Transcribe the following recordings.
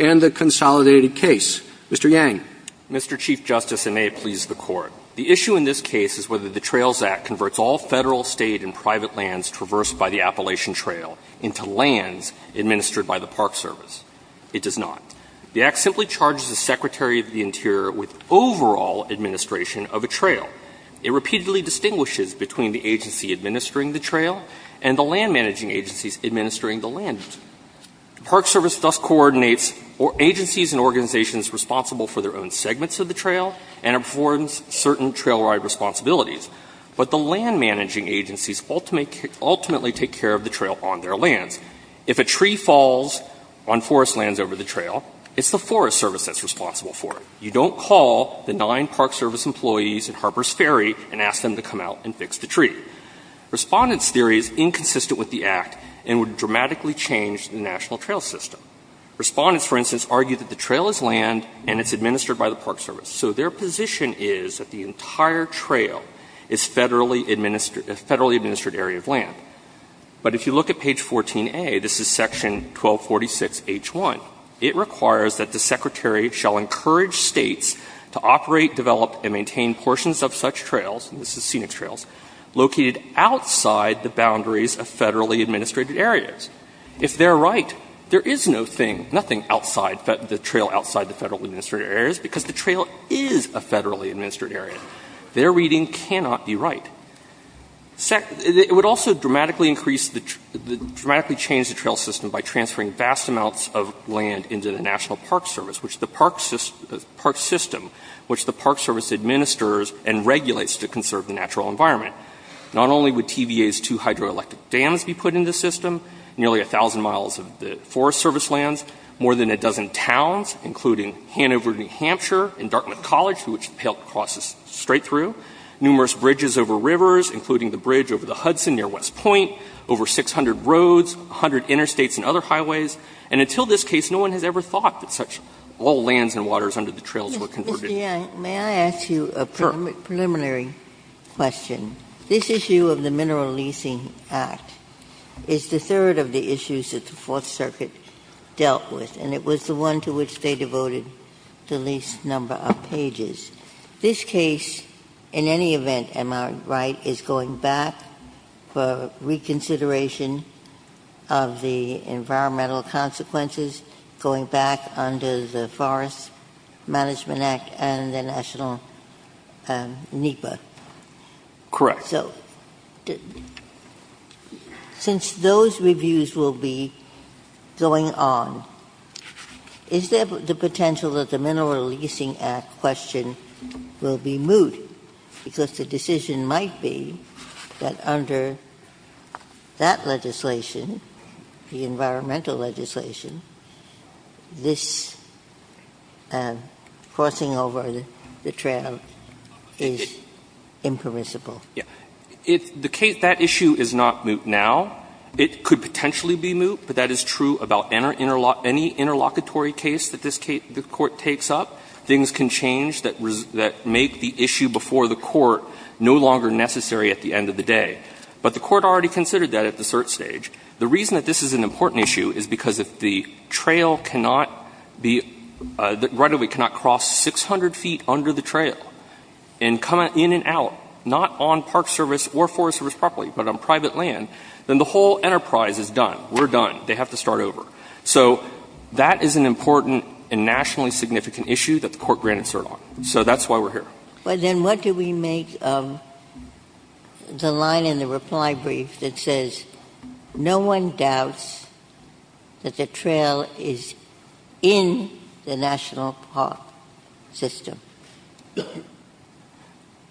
and the Consolidated Case. Mr. Yang. Mr. Chief Justice, and may it please the Court, the issue in this case is whether the Trails Act converts all federal, state, and private lands traversed by the Appalachian Trail into lands administered by the Park Service. It does not. The Act simply charges the Secretary of the Interior with overall administration of the land. The Park Service does not. It repeatedly distinguishes between the agency administering the trail and the land managing agencies administering the land. The Park Service thus coordinates agencies and organizations responsible for their own segments of the trail and affords certain trail ride responsibilities, but the land managing agencies ultimately take care of the trail on their lands. If a tree falls on forest lands over the trail, it's the Forest Service that's responsible for it. You don't call the nine Park Service employees at Harpers Ferry and ask them to come out and fix the tree. Respondents' theory is inconsistent with the Act and would dramatically change the national trail system. Respondents, for instance, argue that the trail is land and it's administered by the Park Service. So their position is that the entire trail is federally administered area of land. But if you look at page 14A, this is section 1246H1, it requires that the Secretary shall encourage States to operate, develop, and maintain portions of such trails, and this is scenic trails, located outside the boundaries of federally administered areas. If they're right, there is no thing, nothing outside the trail outside the federally administered areas because the trail is a federally administered area. Their reading cannot be right. It would also dramatically increase, dramatically change the trail system by transferring vast amounts of land into the National Park Service, which the Park System, which the Park Service administers and regulates to conserve the natural environment. Not only would TVA's two hydroelectric dams be put into the system, nearly 1,000 miles of the Forest Service lands, more than a dozen towns, including Hanover, New Hampshire, and Dartmouth College, through which the Pailton Cross is straight through, numerous bridges over rivers, including the bridge over the May I ask you a preliminary question? This issue of the Mineral Leasing Act is the third of the issues that the Fourth Circuit dealt with, and it was the one to which they devoted the least number of pages. This case, in any event, am I right, is going back for reconsideration of the environmental consequences, going back under the Forest Management Act and the National NEPA? Correct. So, since those reviews will be going on, is there the potential that the Mineral Leasing Act question will be moot because the decision might be to make that under that legislation, the environmental legislation, this crossing over the trail is impermissible? Yes. That issue is not moot now. It could potentially be moot, but that is true about any interlocutory case that the Court takes up. Things can change that make the issue before the Court no longer necessary at the end of the day. But the Court already considered that at the cert stage. The reason that this is an important issue is because if the trail cannot be, right of way, cannot cross 600 feet under the trail and come in and out, not on park service or forest service properly, but on private land, then the whole enterprise is done. We're done. They have to start over. So, that is an important and nationally significant issue that the Court granted cert on. So, that's why we're here. But then what do we make of the line in the reply brief that says, no one doubts that the trail is in the national park system?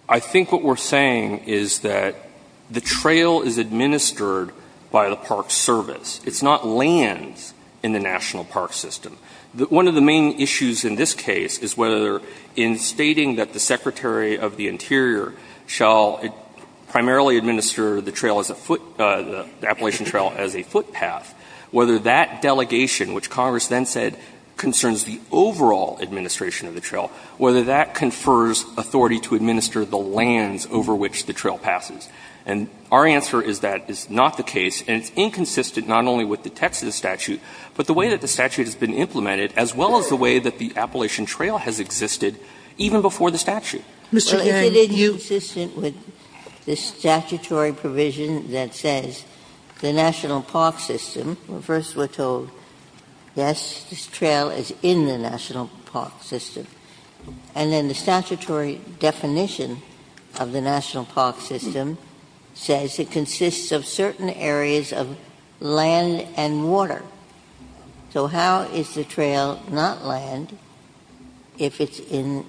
I think what we're saying is that the trail is administered by the park service. It's not land in the national park system. One of the main issues in this case is whether in stating that the Secretary of the Interior shall primarily administer the trail as a foot, the Appalachian Trail as a footpath, whether that delegation, which Congress then said concerns the overall administration of the trail, whether that confers authority to administer the lands over which the trail passes. And our answer is that is not the case, and it's inconsistent not only with the Texas statute, but the way that the statute has been implemented, as well as the way that the Appalachian Trail has existed even before the statute. Sotomayor, you. Ginsburg. Well, if it is inconsistent with the statutory provision that says the national park system, first we're told, yes, this trail is in the national park system. And then the statutory definition of the national park system says it consists of certain areas of land and water. So how is the trail not land if it's in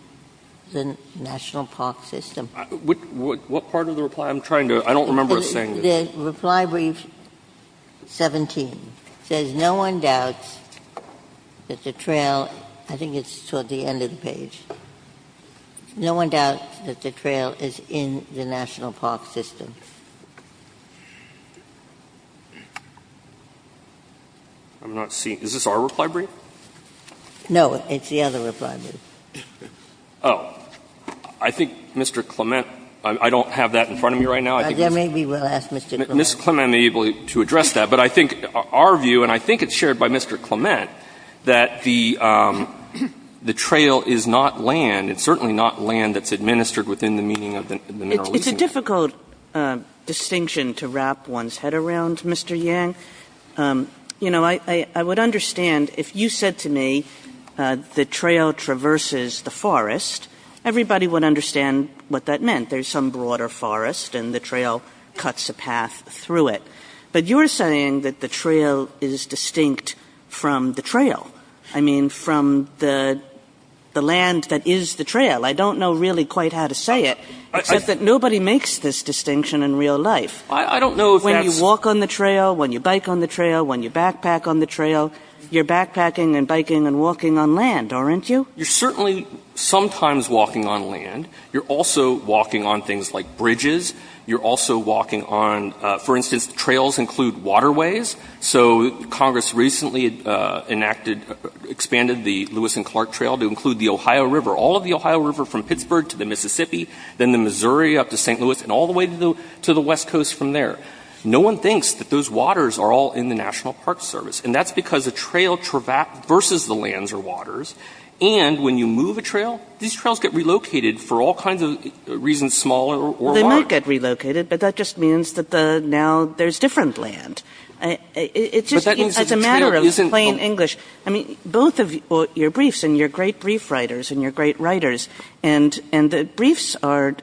the national park system? What part of the reply? I'm trying to — I don't remember us saying this. The reply brief 17 says no one doubts that the trail — I think it's toward the end of the page — no one doubts that the trail is in the national park system. I'm not seeing — is this our reply brief? No, it's the other reply brief. Oh. I think Mr. Clement — I don't have that in front of me right now. Then maybe we'll ask Mr. Clement. Ms. Clement may be able to address that. But I think our view, and I think it's shared by Mr. Clement, that the trail is not land. It's certainly not land that's administered within the meaning of the mineral lease agreement. It's a difficult distinction to wrap one's head around, Mr. Yang. You know, I would understand if you said to me the trail traverses the forest, everybody would understand what that meant. There's some broader forest and the trail cuts a path through it. But you're saying that the trail is distinct from the trail. I mean, from the distinction in real life. I don't know if that's — When you walk on the trail, when you bike on the trail, when you backpack on the trail, you're backpacking and biking and walking on land, aren't you? You're certainly sometimes walking on land. You're also walking on things like bridges. You're also walking on — for instance, the trails include waterways. So Congress recently enacted — expanded the Lewis and Clark Trail to include the Ohio River, all of the Ohio River from Pittsburgh to the Mississippi, then the Missouri up to St. Louis, and all the way to the West Coast from there. No one thinks that those waters are all in the National Park Service. And that's because a trail traverses the lands or waters, and when you move a trail, these trails get relocated for all kinds of reasons, small or wide. Well, they might get relocated, but that just means that now there's different land. It's just — But that means the trail isn't — You're great writers, and you're great writers, and the briefs are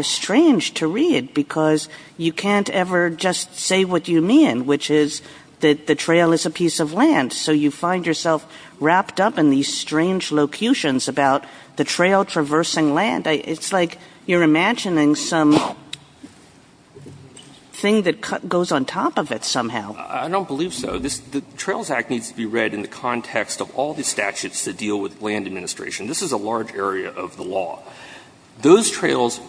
strange to read because you can't ever just say what you mean, which is that the trail is a piece of land. So you find yourself wrapped up in these strange locutions about the trail traversing land. It's like you're imagining some thing that goes on top of it somehow. I don't believe so. The Trails Act needs to be read in the context of all the statutes that deal with land administration. This is a large area of the law. Those trails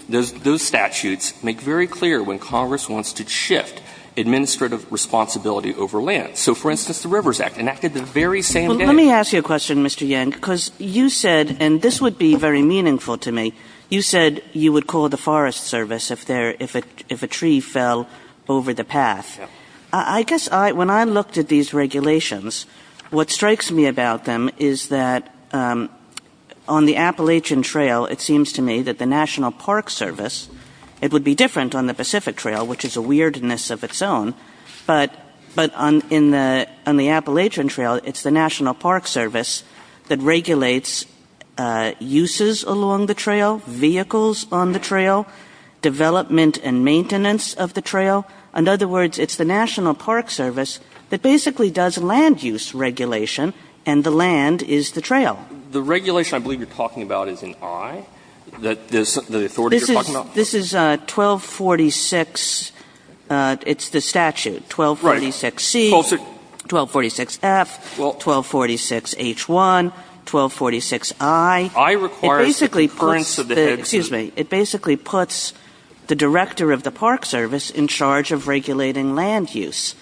— those statutes make very clear when Congress wants to shift administrative responsibility over land. So, for instance, the Rivers Act, enacted the very same day. Let me ask you a question, Mr. Yang, because you said — and this would be very meaningful to me — you said you would call the Forest Service if a tree fell over the path. I guess when I looked at these regulations, what strikes me about them is that on the Appalachian Trail, it seems to me that the National Park Service — it would be different on the Pacific Trail, which is a weirdness of its own, but on the Appalachian Trail, it's the National Park Service that regulates uses along the trail, vehicles on the trail, development and maintenance of the trail. In other words, it's the National Park Service that basically does land use regulation, and the land is the trail. Yang, the regulation I believe you're talking about is in I, that the authority you're talking about? Kagan This is 1246 — it's the statute. Yang Right. Kagan 1246C, 1246F, 1246H1, 1246I. Yang I requires the concurrence of the heads of — Kagan It basically puts the — excuse me. It basically puts the director of the Park Service in charge of regulating land use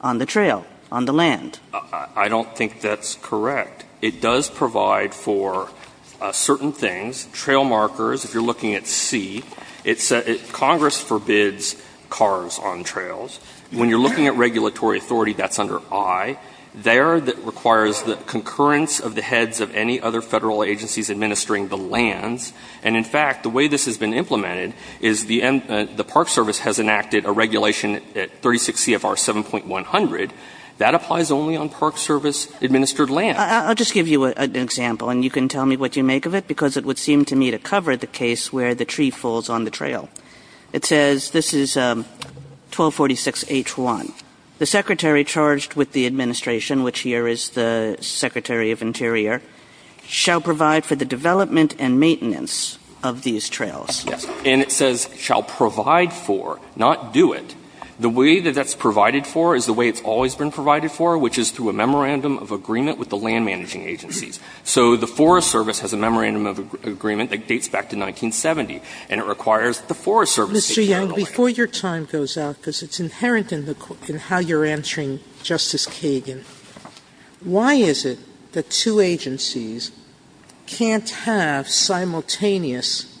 on the trail, on the land. Yang I don't think that's correct. It does provide for certain things, trail markers. If you're looking at C, it's — Congress forbids cars on trails. When you're looking at regulatory authority, that's under I. There, it requires the concurrence of the heads of any other Federal agencies administering the lands. And in fact, the way this has been implemented is the Park Service has enacted a regulation at 36 CFR 7.100 that applies only on Park Service-administered land. Kagan I'll just give you an example, and you can tell me what you make of it, because it would seem to me to cover the case where the tree falls on the trail. It says, this is 1246H1. The secretary charged with the administration, which here is the secretary of interior, shall provide for the development and maintenance of these trails. Yang And it says shall provide for, not do it. The way that that's provided for is the way it's always been provided for, which is through a memorandum of agreement with the land-managing agencies. So the Forest Service has a memorandum of agreement that dates back to 1970, and it requires that the Forest Service take care of the land. Sotomayor Mr. Yang, before your time goes out, because it's inherent in the — in how you're answering Justice Kagan, why is it that two agencies can't have simultaneous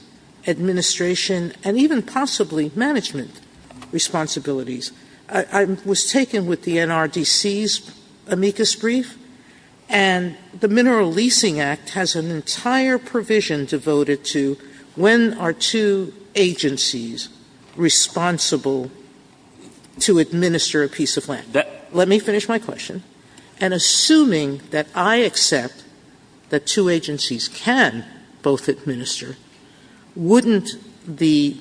administration and even possibly management responsibilities? I was taken with the NRDC's amicus brief, and the Mineral Leasing Act has an entire provision devoted to when are two agencies responsible to administer a piece of land. Let me finish my question. And assuming that I accept that two agencies can both administer, wouldn't the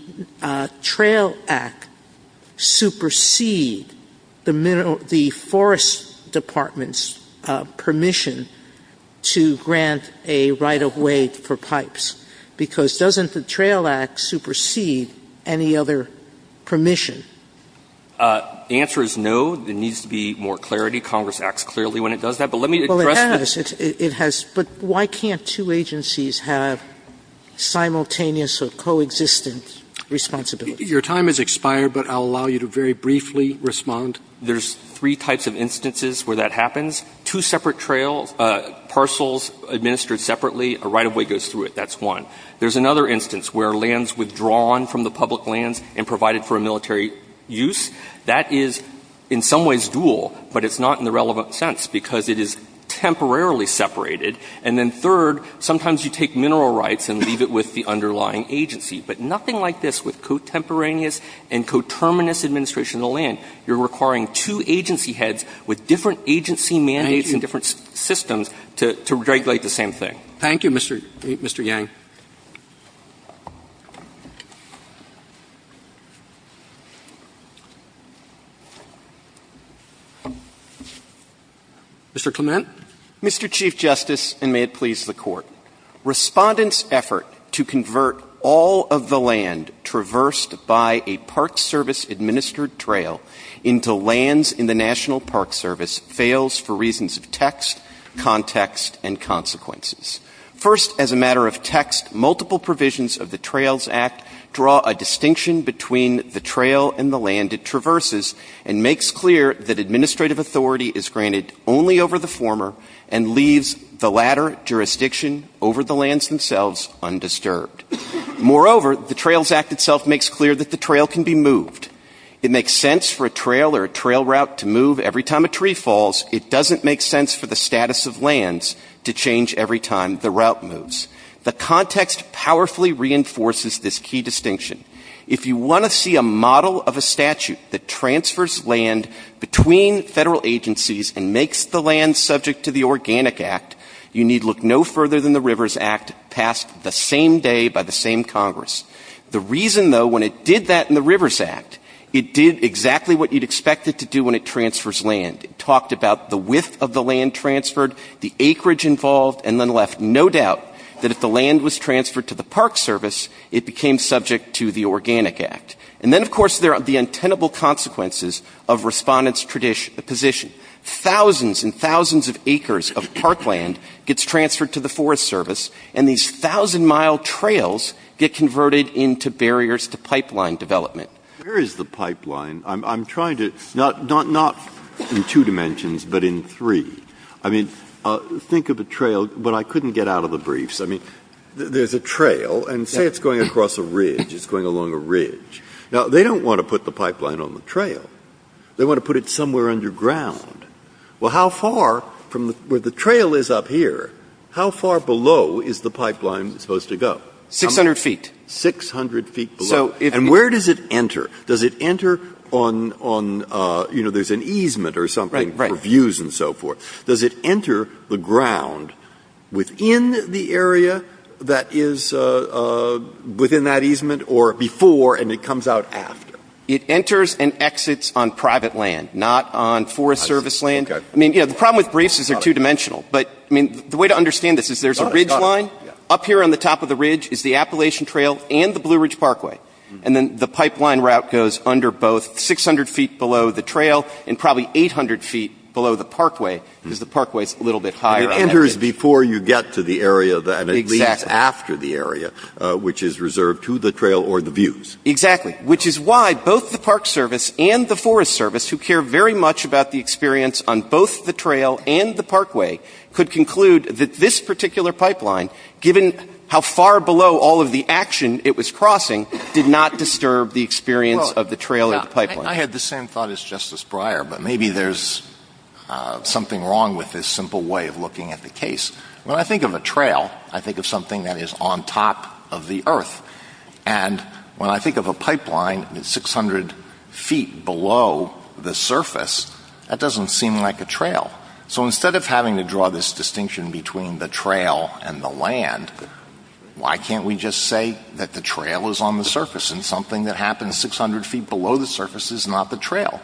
Trail Act supersede the forest department's permission to grant a right of way for pipes? Because doesn't the Trail Act supersede any other permission? The answer is no. There needs to be more clarity. Congress acts clearly when it does that. But let me address this. Well, it has. It has. But why can't two agencies have simultaneous or coexistent responsibilities? Your time has expired, but I'll allow you to very briefly respond. There's three types of instances where that happens. Two separate trails, parcels administered separately, a right of way goes through That's one. There's another instance where lands withdrawn from the public lands and provided for a military use, that is in some ways dual, but it's not in the relevant sense because it is temporarily separated. And then third, sometimes you take mineral rights and leave it with the underlying agency. But nothing like this with contemporaneous and coterminous administration of the land. You're requiring two agency heads with different agency mandates and different systems to regulate the same thing. Thank you, Mr. Yang. Mr. Clement. Mr. Chief Justice, and may it please the Court. Respondents' effort to convert all of the land traversed by a park service administered trail into lands in the National Park Service fails for reasons of text, context, and consequences. In the text, multiple provisions of the Trails Act draw a distinction between the trail and the land it traverses and makes clear that administrative authority is granted only over the former and leaves the latter jurisdiction over the lands themselves undisturbed. Moreover, the Trails Act itself makes clear that the trail can be moved. It makes sense for a trail or a trail route to move every time a tree falls. It doesn't make sense for the status of lands to change every time the route moves. The context powerfully reinforces this key distinction. If you want to see a model of a statute that transfers land between Federal agencies and makes the land subject to the Organic Act, you need look no further than the Rivers Act passed the same day by the same Congress. The reason, though, when it did that in the Rivers Act, it did exactly what you'd expect it to do when it transfers land. It talked about the width of the land transferred, the acreage involved, and then left no doubt that if the land was transferred to the Park Service, it became subject to the Organic Act. And then, of course, there are the untenable consequences of respondents' position. Thousands and thousands of acres of parkland gets transferred to the Forest Service, and these thousand-mile trails get converted into barriers to pipeline development. Breyer. Where is the pipeline? I'm trying to, not in two dimensions, but in three. I mean, think of a trail, but I couldn't get out of the briefs. I mean, there's a trail, and say it's going across a ridge. It's going along a ridge. Now, they don't want to put the pipeline on the trail. They want to put it somewhere underground. Well, how far from where the trail is up here, how far below is the pipeline supposed to go? 600 feet. 600 feet below. And where does it enter? Does it enter on, you know, there's an easement or something for views and so forth. Does it enter the ground within the area that is within that easement or before and it comes out after? It enters and exits on private land, not on Forest Service land. I mean, you know, the problem with briefs is they're two-dimensional. But, I mean, the way to understand this is there's a ridge line. Up here on the top of the ridge is the Appalachian Trail and the Blue Ridge Parkway. And then the pipeline route goes under both 600 feet below the trail and probably 800 feet below the parkway because the parkway is a little bit higher on that ridge. And it enters before you get to the area and it leaves after the area, which is reserved to the trail or the views. Exactly. Which is why both the Park Service and the Forest Service, who care very much about the experience on both the trail and the parkway, could conclude that this particular pipeline, given how far below all of the action it was crossing, did not disturb the experience of the trail or the pipeline. I had the same thought as Justice Breyer, but maybe there's something wrong with this simple way of looking at the case. When I think of a trail, I think of something that is on top of the earth. And when I think of a pipeline that's 600 feet below the surface, that doesn't seem like a trail. So instead of having to draw this distinction between the trail and the land, why can't we just say that the trail is on the surface and something that happens 600 feet below the surface is not the trail?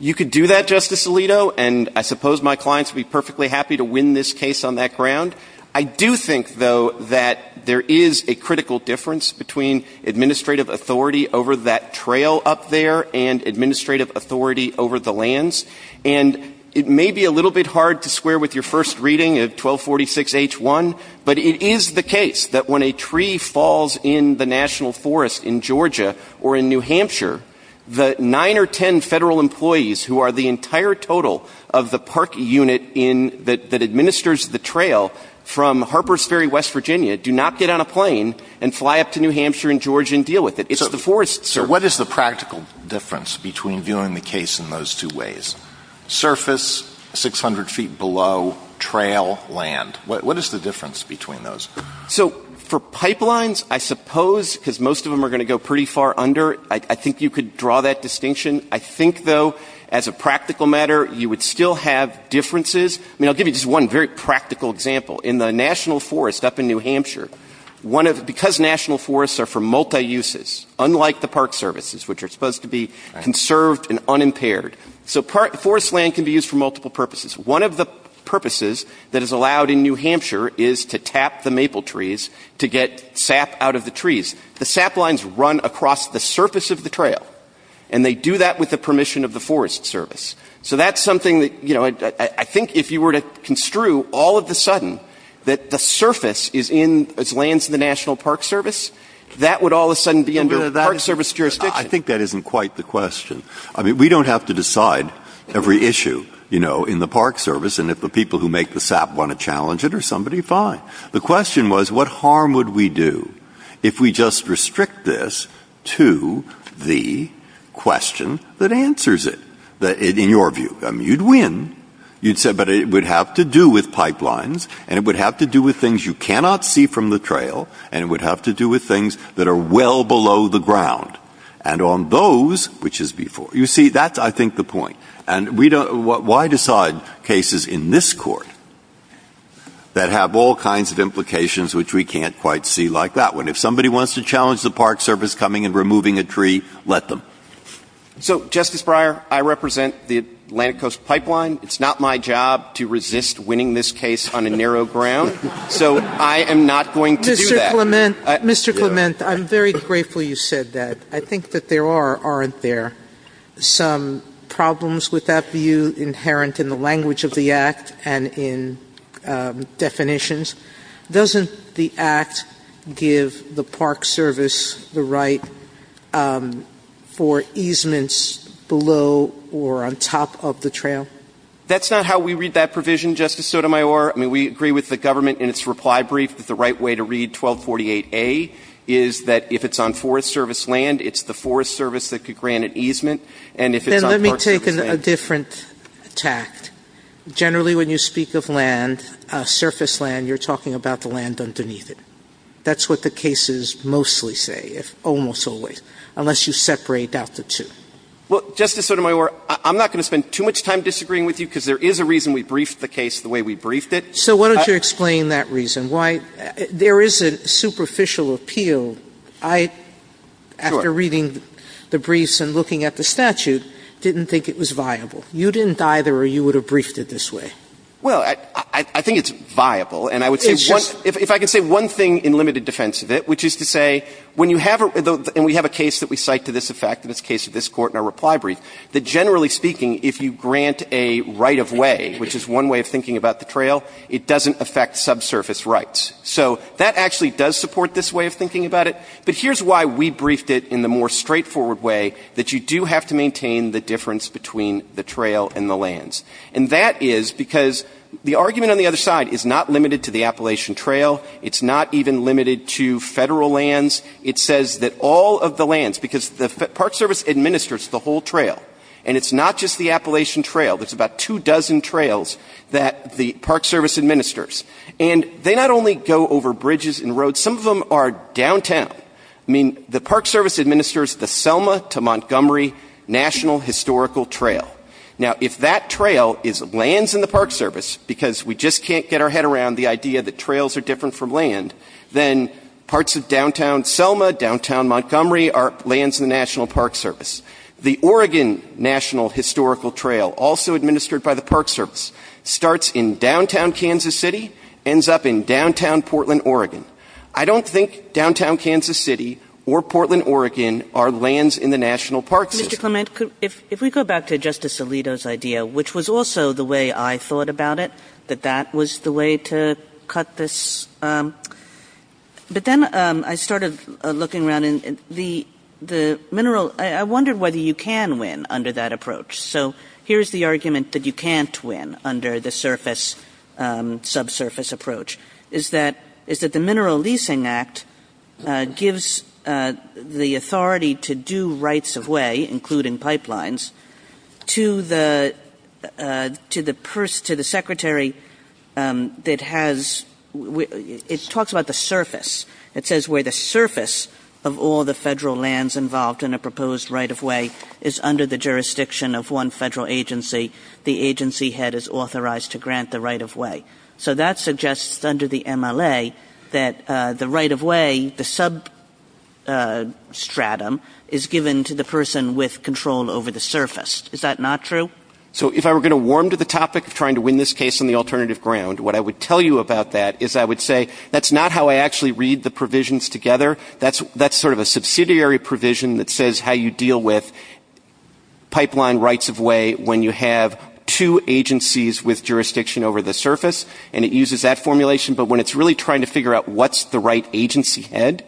You could do that, Justice Alito, and I suppose my clients would be perfectly happy to win this case on that ground. I do think, though, that there is a critical difference between administrative authority over that trail up there and administrative authority over the lands. And it may be a little bit hard to square with your first reading of 1246-H1, but it is the case that when a tree falls in the national forest in Georgia or in New Hampshire, the nine or ten federal employees who are the entire total of the park unit that administers the trail from Harpers Ferry, West Virginia, do not get on a plane and fly up to New Hampshire and Georgia and deal with it. It's the forest, sir. What is the practical difference between viewing the case in those two ways? Surface, 600 feet below, trail, land. What is the difference between those? So for pipelines, I suppose, because most of them are going to go pretty far under, I think you could draw that distinction. I think, though, as a practical matter, you would still have differences. I mean, I'll give you just one very practical example. In the national forest up in New Hampshire, because national forests are for forest services, which are supposed to be conserved and unimpaired. So forest land can be used for multiple purposes. One of the purposes that is allowed in New Hampshire is to tap the maple trees to get sap out of the trees. The sap lines run across the surface of the trail, and they do that with the permission of the forest service. So that's something that, you know, I think if you were to construe all of the sudden that the surface is in as lands in the National Park Service, that would all of the sudden be under Park Service jurisdiction. I think that isn't quite the question. I mean, we don't have to decide every issue, you know, in the Park Service, and if the people who make the sap want to challenge it or somebody, fine. The question was, what harm would we do if we just restrict this to the question that answers it, in your view? I mean, you'd win. You'd say, but it would have to do with pipelines, and it would have to do with things you cannot see from the trail, and it would have to do with things that are well below the ground. And on those, which is before. You see, that's, I think, the point. And we don't — why decide cases in this Court that have all kinds of implications which we can't quite see like that one? If somebody wants to challenge the Park Service coming and removing a tree, let them. So, Justice Breyer, I represent the Atlantic Coast Pipeline. It's not my job to resist winning this case on a narrow ground. So I am not going to do that. Mr. Clement, I'm very grateful you said that. I think that there are, aren't there, some problems with that view inherent in the language of the Act and in definitions? Doesn't the Act give the Park Service the right for easements below or on top of the trail? That's not how we read that provision, Justice Sotomayor. I mean, we agree with the government in its reply brief that the right way to read 1248a is that if it's on Forest Service land, it's the Forest Service that could grant an easement. And if it's on Park Service land — Sotomayor, let me take a different tact. Generally, when you speak of land, surface land, you're talking about the land underneath it. That's what the cases mostly say, almost always, unless you separate out the two. Well, Justice Sotomayor, I'm not going to spend too much time disagreeing with you, because there is a reason we briefed the case the way we briefed it. So why don't you explain that reason? There is a superficial appeal. I, after reading the briefs and looking at the statute, didn't think it was viable. You didn't either, or you would have briefed it this way. Well, I think it's viable, and I would say one — if I could say one thing in limited defense of it, which is to say when you have a — and we have a case that we cite to this effect, and it's the case of this Court in our reply brief, that generally speaking, if you grant a right-of-way, which is one way of thinking about the trail, it doesn't affect subsurface rights. So that actually does support this way of thinking about it. But here's why we briefed it in the more straightforward way, that you do have to maintain the difference between the trail and the lands. And that is because the argument on the other side is not limited to the Appalachian Trail. It's not even limited to Federal lands. It says that all of the lands — because the Park Service administers the whole trail, and it's not just the Appalachian Trail. There's about two dozen trails that the Park Service administers. And they not only go over bridges and roads. Some of them are downtown. I mean, the Park Service administers the Selma to Montgomery National Historical Trail. Now, if that trail is lands in the Park Service, because we just can't get our head around the idea that trails are different from land, then parts of downtown Selma, downtown Montgomery, are lands in the National Park Service. The Oregon National Historical Trail, also administered by the Park Service, starts in downtown Kansas City, ends up in downtown Portland, Oregon. I don't think downtown Kansas City or Portland, Oregon are lands in the National Park Service. Kagan. Mr. Clement, if we go back to Justice Alito's idea, which was also the way I thought about it, that that was the way to cut this — but then I started looking around and the mineral — I wondered whether you can win under that approach. So here's the argument that you can't win under the surface, subsurface approach, is that the Mineral Leasing Act gives the authority to do rights of way, including pipelines, to the secretary that has — it talks about the surface. It says where the surface of all the federal lands involved in a proposed right of way is under the jurisdiction of one federal agency. The agency head is authorized to grant the right of way. So that suggests under the MLA that the right of way, the substratum, is given to the person with control over the surface. Is that not true? So if I were going to warm to the topic of trying to win this case on the alternative ground, what I would tell you about that is I would say that's not how I actually read the provisions together. That's sort of a subsidiary provision that says how you deal with pipeline rights of way when you have two agencies with jurisdiction over the surface, and it uses that formulation. But when it's really trying to figure out what's the right agency head,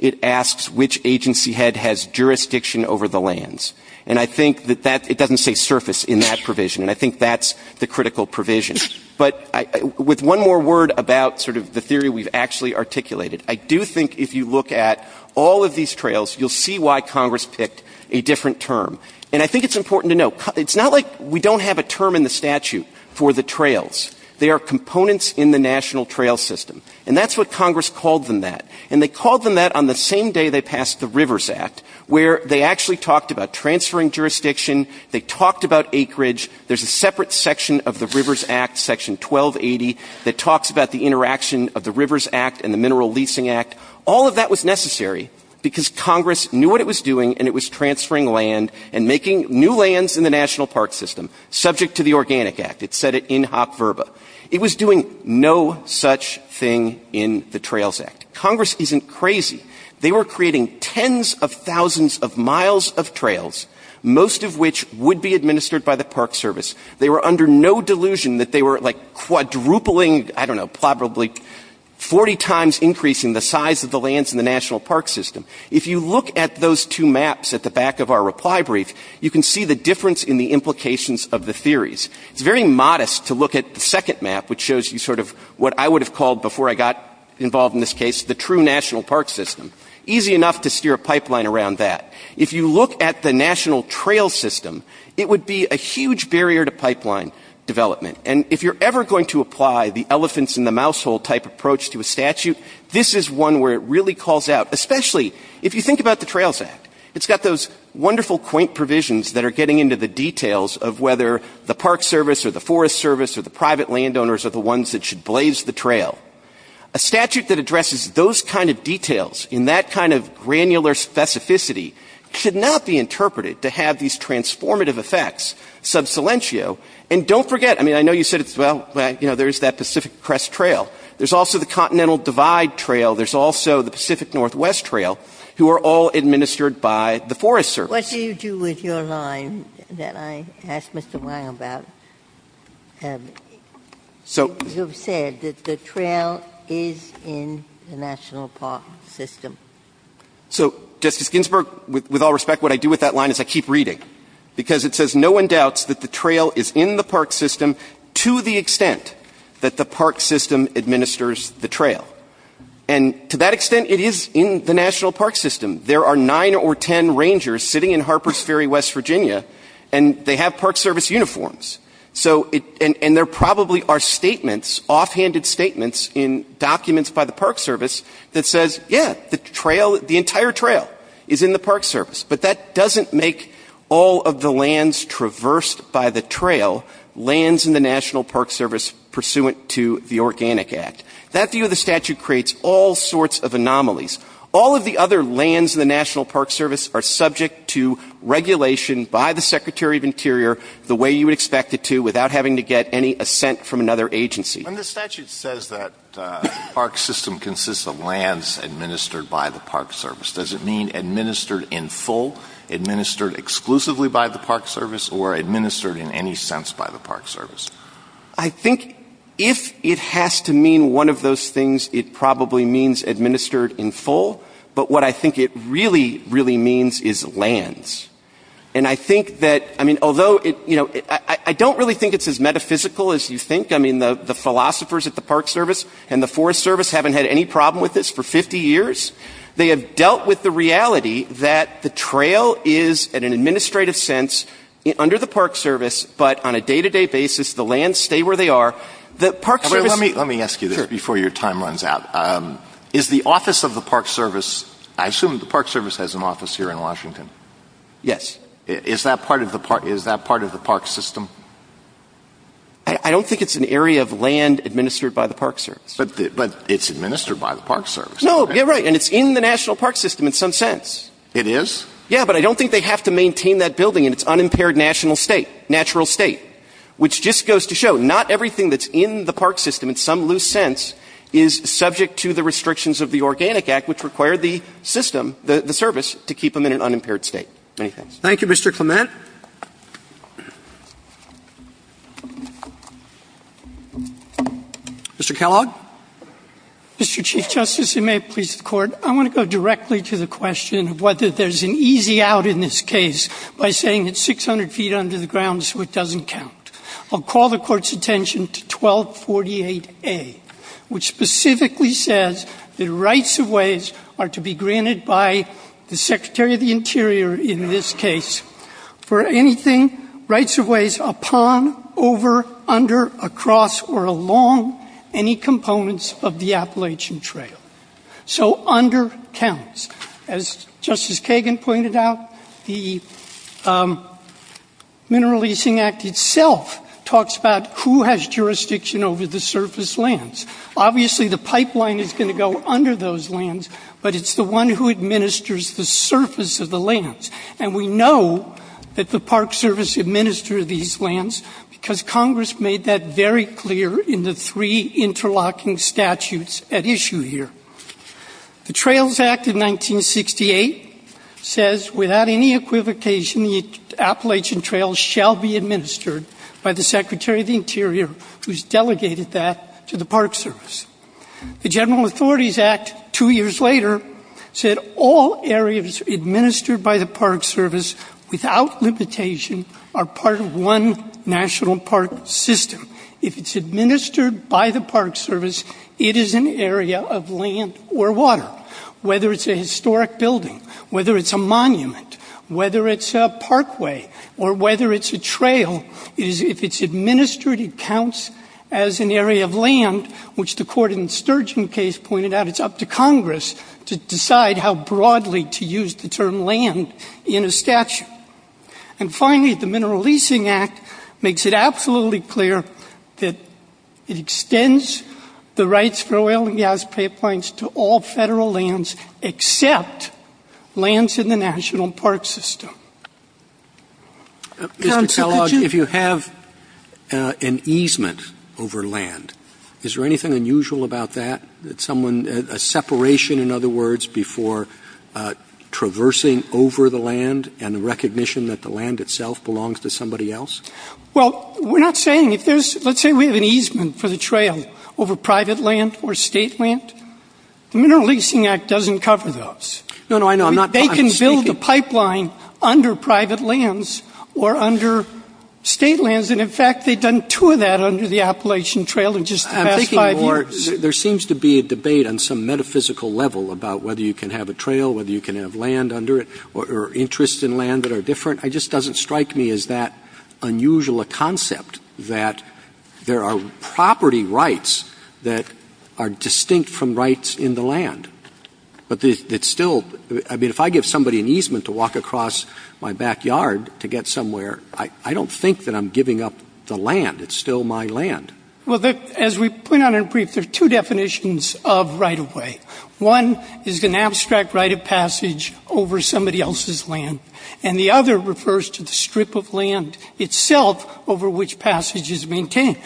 it asks which agency head has jurisdiction over the lands. And I think that that — it doesn't say surface in that provision. And I think that's the critical provision. But with one more word about sort of the theory we've actually articulated, I do think if you look at all of these trails, you'll see why Congress picked a different term. And I think it's important to note, it's not like we don't have a term in the statute for the trails. They are components in the national trail system. And that's what Congress called them that. And they called them that on the same day they passed the Rivers Act, where they actually talked about transferring jurisdiction. They talked about acreage. There's a separate section of the Rivers Act, Section 1280, that talks about the interaction of the Rivers Act and the Mineral Leasing Act. All of that was necessary because Congress knew what it was doing, and it was transferring land and making new lands in the national park system, subject to the Organic Act. It said it in hop verba. It was doing no such thing in the Trails Act. Congress isn't crazy. They were creating tens of thousands of miles of trails, most of which would be under no delusion that they were quadrupling, I don't know, probably 40 times increasing the size of the lands in the national park system. If you look at those two maps at the back of our reply brief, you can see the difference in the implications of the theories. It's very modest to look at the second map, which shows you sort of what I would have called, before I got involved in this case, the true national park system. Easy enough to steer a pipeline around that. If you look at the national trail system, it would be a huge barrier to pipeline development. And if you're ever going to apply the elephants-in-the-mousehole type approach to a statute, this is one where it really calls out, especially if you think about the Trails Act. It's got those wonderful quaint provisions that are getting into the details of whether the Park Service or the Forest Service or the private landowners are the ones that should blaze the trail. A statute that addresses those kind of details, in that kind of granular specificity, could not be interpreted to have these transformative effects sub silentio. And don't forget, I mean, I know you said it's, well, you know, there's that Pacific Crest Trail. There's also the Continental Divide Trail. There's also the Pacific Northwest Trail, who are all administered by the Forest Service. Ginsburg. What do you do with your line that I asked Mr. Wang about? You've said that the trail is in the national park system. So, Justice Ginsburg, with all respect, what I do with that line is I keep reading, because it says no one doubts that the trail is in the park system to the extent that the park system administers the trail. And to that extent, it is in the national park system. There are nine or ten rangers sitting in Harpers Ferry, West Virginia, and they have Park Service uniforms. So it – and there probably are statements, offhanded statements in documents by the Park Service that says, yeah, the trail – the entire trail is in the Park Service. But that doesn't make all of the lands traversed by the trail lands in the National Park Service pursuant to the Organic Act. That view of the statute creates all sorts of anomalies. All of the other lands in the National Park Service are subject to regulation by the Secretary of Interior the way you would expect it to without having to get any assent from another agency. When the statute says that the park system consists of lands administered by the Park Service, does it mean administered in full, administered exclusively by the Park Service, or administered in any sense by the Park Service? I think if it has to mean one of those things, it probably means administered in full. But what I think it really, really means is lands. And I think that – I mean, although it – you know, I don't really think it's as metaphysical as you think. I mean, the philosophers at the Park Service and the Forest Service haven't had any problem with this for 50 years. They have dealt with the reality that the trail is, in an administrative sense, under the Park Service, but on a day-to-day basis, the lands stay where they are. The Park Service – Let me ask you this before your time runs out. Is the office of the Park Service – I assume the Park Service has an office here in Washington. Yes. Is that part of the park – is that part of the park system? I don't think it's an area of land administered by the Park Service. But it's administered by the Park Service. No. Yeah, right. And it's in the national park system in some sense. It is? Yeah. But I don't think they have to maintain that building in its unimpaired national state, natural state, which just goes to show not everything that's in the park system in some loose sense is subject to the restrictions of the Organic Act, which require the system, the service, to keep them in an unimpaired state. Many thanks. Thank you, Mr. Clement. Mr. Kellogg. Mr. Chief Justice, and may it please the Court, I want to go directly to the question of whether there's an easy out in this case by saying it's 600 feet under the ground so it doesn't count. I'll call the Court's attention to 1248A, which specifically says that rights of ways are to be granted by the Secretary of the Interior in this case for anything rights of ways upon, over, under, across, or along any components of the Appalachian Trail. So under counts. As Justice Kagan pointed out, the Mineral Leasing Act itself talks about who has jurisdiction over the surface lands. Obviously, the pipeline is going to go under those lands, but it's the one who administers the surface of the lands. And we know that the Park Service administer these lands because Congress made that very clear in the three interlocking statutes at issue here. The Trails Act of 1968 says without any equivocation, the Appalachian Trail shall be The General Authorities Act two years later said all areas administered by the Park Service without limitation are part of one national park system. If it's administered by the Park Service, it is an area of land or water. Whether it's a historic building, whether it's a monument, whether it's a parkway, or which the court in Sturgeon case pointed out, it's up to Congress to decide how broadly to use the term land in a statute. And finally, the Mineral Leasing Act makes it absolutely clear that it extends the rights for oil and gas pipelines to all Federal lands except lands in the national park system. Mr. Kellogg, if you have an easement over land, is there anything unusual about that, that someone, a separation, in other words, before traversing over the land and the recognition that the land itself belongs to somebody else? Well, we're not saying if there's, let's say we have an easement for the trail over private land or State land, the Mineral Leasing Act doesn't cover those. No, no, I know. They can build a pipeline under private lands or under State lands. And in fact, they've done two of that under the Appalachian Trail in just the past five years. I'm thinking more, there seems to be a debate on some metaphysical level about whether you can have a trail, whether you can have land under it, or interests in land that are different. It just doesn't strike me as that unusual a concept that there are property rights that are distinct from rights in the land. But it's still, I mean, if I give somebody an easement to walk across my backyard to get somewhere, I don't think that I'm giving up the land. It's still my land. Well, as we point out in brief, there are two definitions of right-of-way. One is an abstract right of passage over somebody else's land, and the other refers to the strip of land itself over which passage is maintained.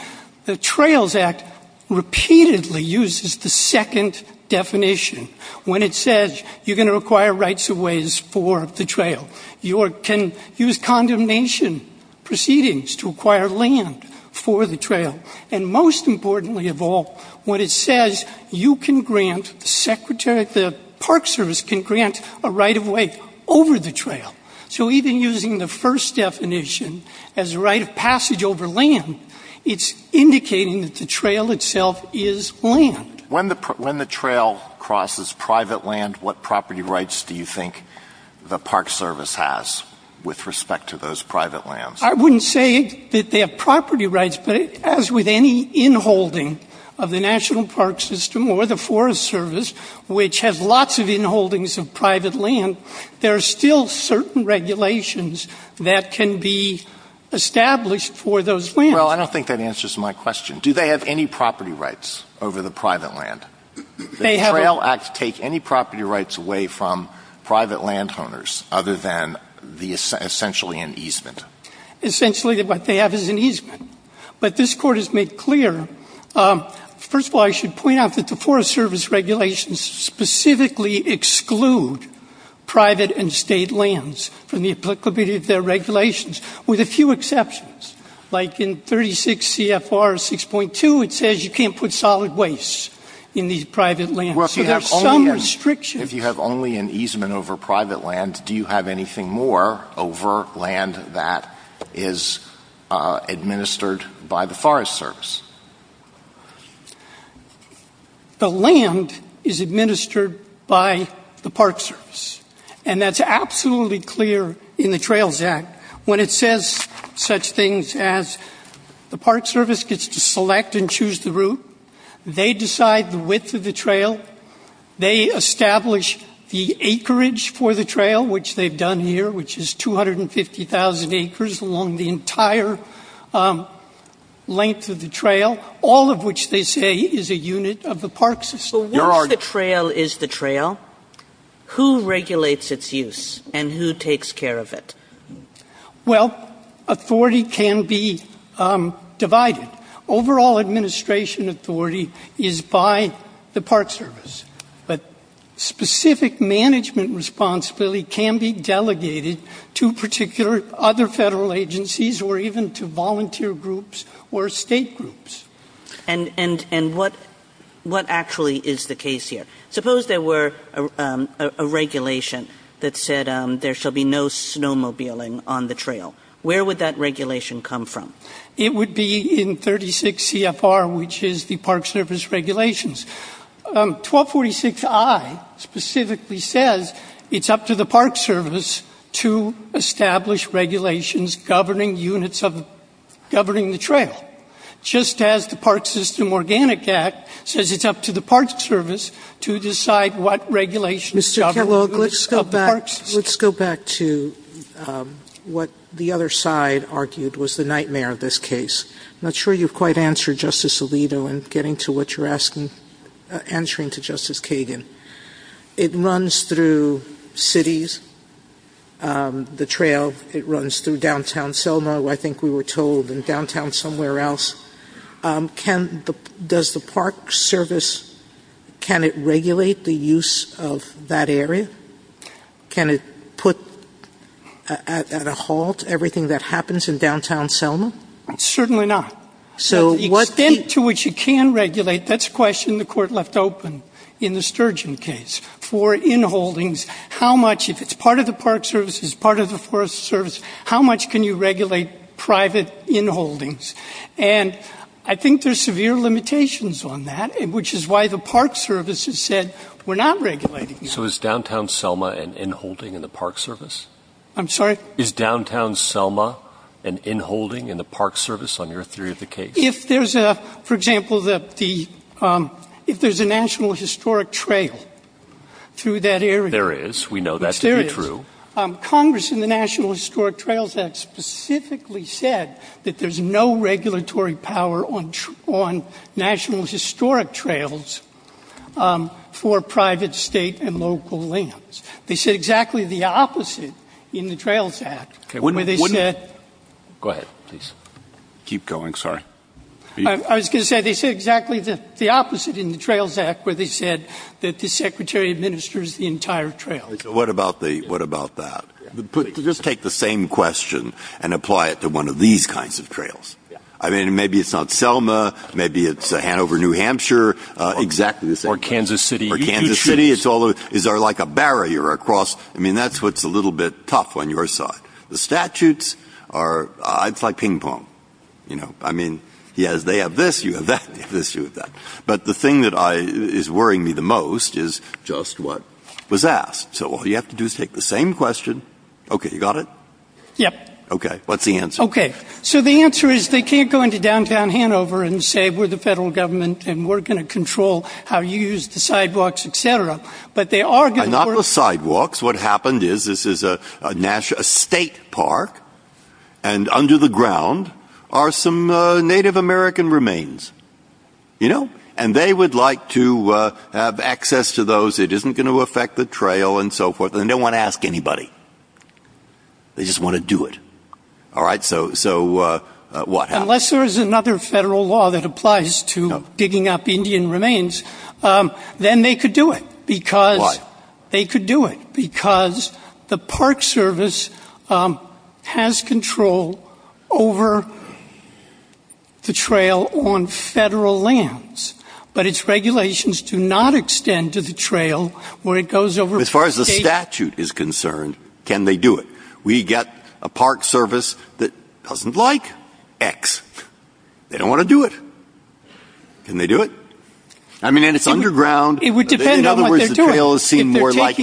The Trails Act repeatedly uses the second definition when it says you're going to require rights of ways for the trail. You can use condemnation proceedings to acquire land for the trail. And most importantly of all, when it says you can grant, the park service can grant a right of way over the trail. So even using the first definition as a right of passage over land, it's indicating that the trail itself is land. When the trail crosses private land, what property rights do you think the park service has with respect to those private lands? I wouldn't say that they have property rights, but as with any inholding of the National Park System or the Forest Service, which has lots of inholdings of private land, there are still certain regulations that can be established for those lands. Well, I don't think that answers my question. Do they have any property rights over the private land? The Trail Act take any property rights away from private land owners other than essentially an easement? Essentially what they have is an easement. But this Court has made clear. First of all, I should point out that the Forest Service regulations specifically exclude private and state lands from the applicability of their regulations, with a few exceptions. Like in 36 CFR 6.2, it says you can't put solid waste in these private lands. So there are some restrictions. If you have only an easement over private land, do you have anything more over land that is administered by the Forest Service? The land is administered by the Park Service. And that's absolutely clear in the Trails Act. When it says such things as the Park Service gets to select and choose the route, they decide the width of the trail, they establish the acreage for the trail, which they've done here, which is 250,000 acres along the entire length of the trail, all of which they say is a unit of the park system. Your Honor. But once the trail is the trail, who regulates its use and who takes care of it? Well, authority can be divided. Overall administration authority is by the Park Service. But specific management responsibility can be delegated to particular other Federal agencies or even to volunteer groups or state groups. And what actually is the case here? Suppose there were a regulation that said there shall be no snowmobiling on the trail. Where would that regulation come from? It would be in 36 CFR, which is the Park Service regulations. 1246I specifically says it's up to the Park Service to establish regulations governing units of governing the trail, just as the Park System Organic Act says it's up to the Park Service to decide what regulations govern the park system. Sotomayor, let's go back to what the other side argued was the nightmare of this case. I'm not sure you've quite answered, Justice Alito, in getting to what you're asking, answering to Justice Kagan. It runs through cities, the trail. It runs through downtown Selma, I think we were told, and downtown somewhere else. Does the Park Service, can it regulate the use of that area? Can it put at a halt everything that happens in downtown Selma? Certainly not. So the extent to which it can regulate, that's a question the Court left open in the Sturgeon case. For inholdings, how much, if it's part of the Park Service, it's part of the Forest Service, how much can you regulate private inholdings? And I think there's severe limitations on that, which is why the Park Service has said we're not regulating it. So is downtown Selma an inholding in the Park Service? I'm sorry? Is downtown Selma an inholding in the Park Service on your theory of the case? If there's a, for example, the, if there's a National Historic Trail through that area. There is. We know that to be true. There is. Congress in the National Historic Trails Act specifically said that there's no regulatory power on National Historic Trails for private, State, and local lands. They said exactly the opposite in the Trails Act. Okay. Go ahead. Please. Keep going. Sorry. I was going to say they said exactly the opposite in the Trails Act where they said that the Secretary administers the entire trails. What about the, what about that? Just take the same question and apply it to one of these kinds of trails. I mean, maybe it's not Selma. Maybe it's Hanover, New Hampshire. Exactly the same. Or Kansas City. Is there like a barrier across? I mean, that's what's a little bit tough on your side. The statutes are, it's like ping pong, you know. I mean, yes, they have this, you have that, this, you have that. But the thing that I, is worrying me the most is just what was asked. So all you have to do is take the same question. Okay. You got it? Yep. Okay. What's the answer? Okay. So the answer is they can't go into downtown Hanover and say we're the Federal Government and we're going to control how you use the sidewalks, et cetera. But they are going to work. Not the sidewalks. What happened is this is a state park. And under the ground are some Native American remains. You know? And they would like to have access to those. It isn't going to affect the trail and so forth. They don't want to ask anybody. They just want to do it. All right? So what happened? Unless there is another Federal law that applies to digging up Indian remains, then they could do it. Why? Because they could do it. Because the Park Service has control over the trail on Federal lands. But its regulations do not extend to the trail where it goes over. As far as the statute is concerned, can they do it? We get a Park Service that doesn't like X. They don't want to do it. Can they do it? I mean, and it's underground. In other words, the trail is seen more like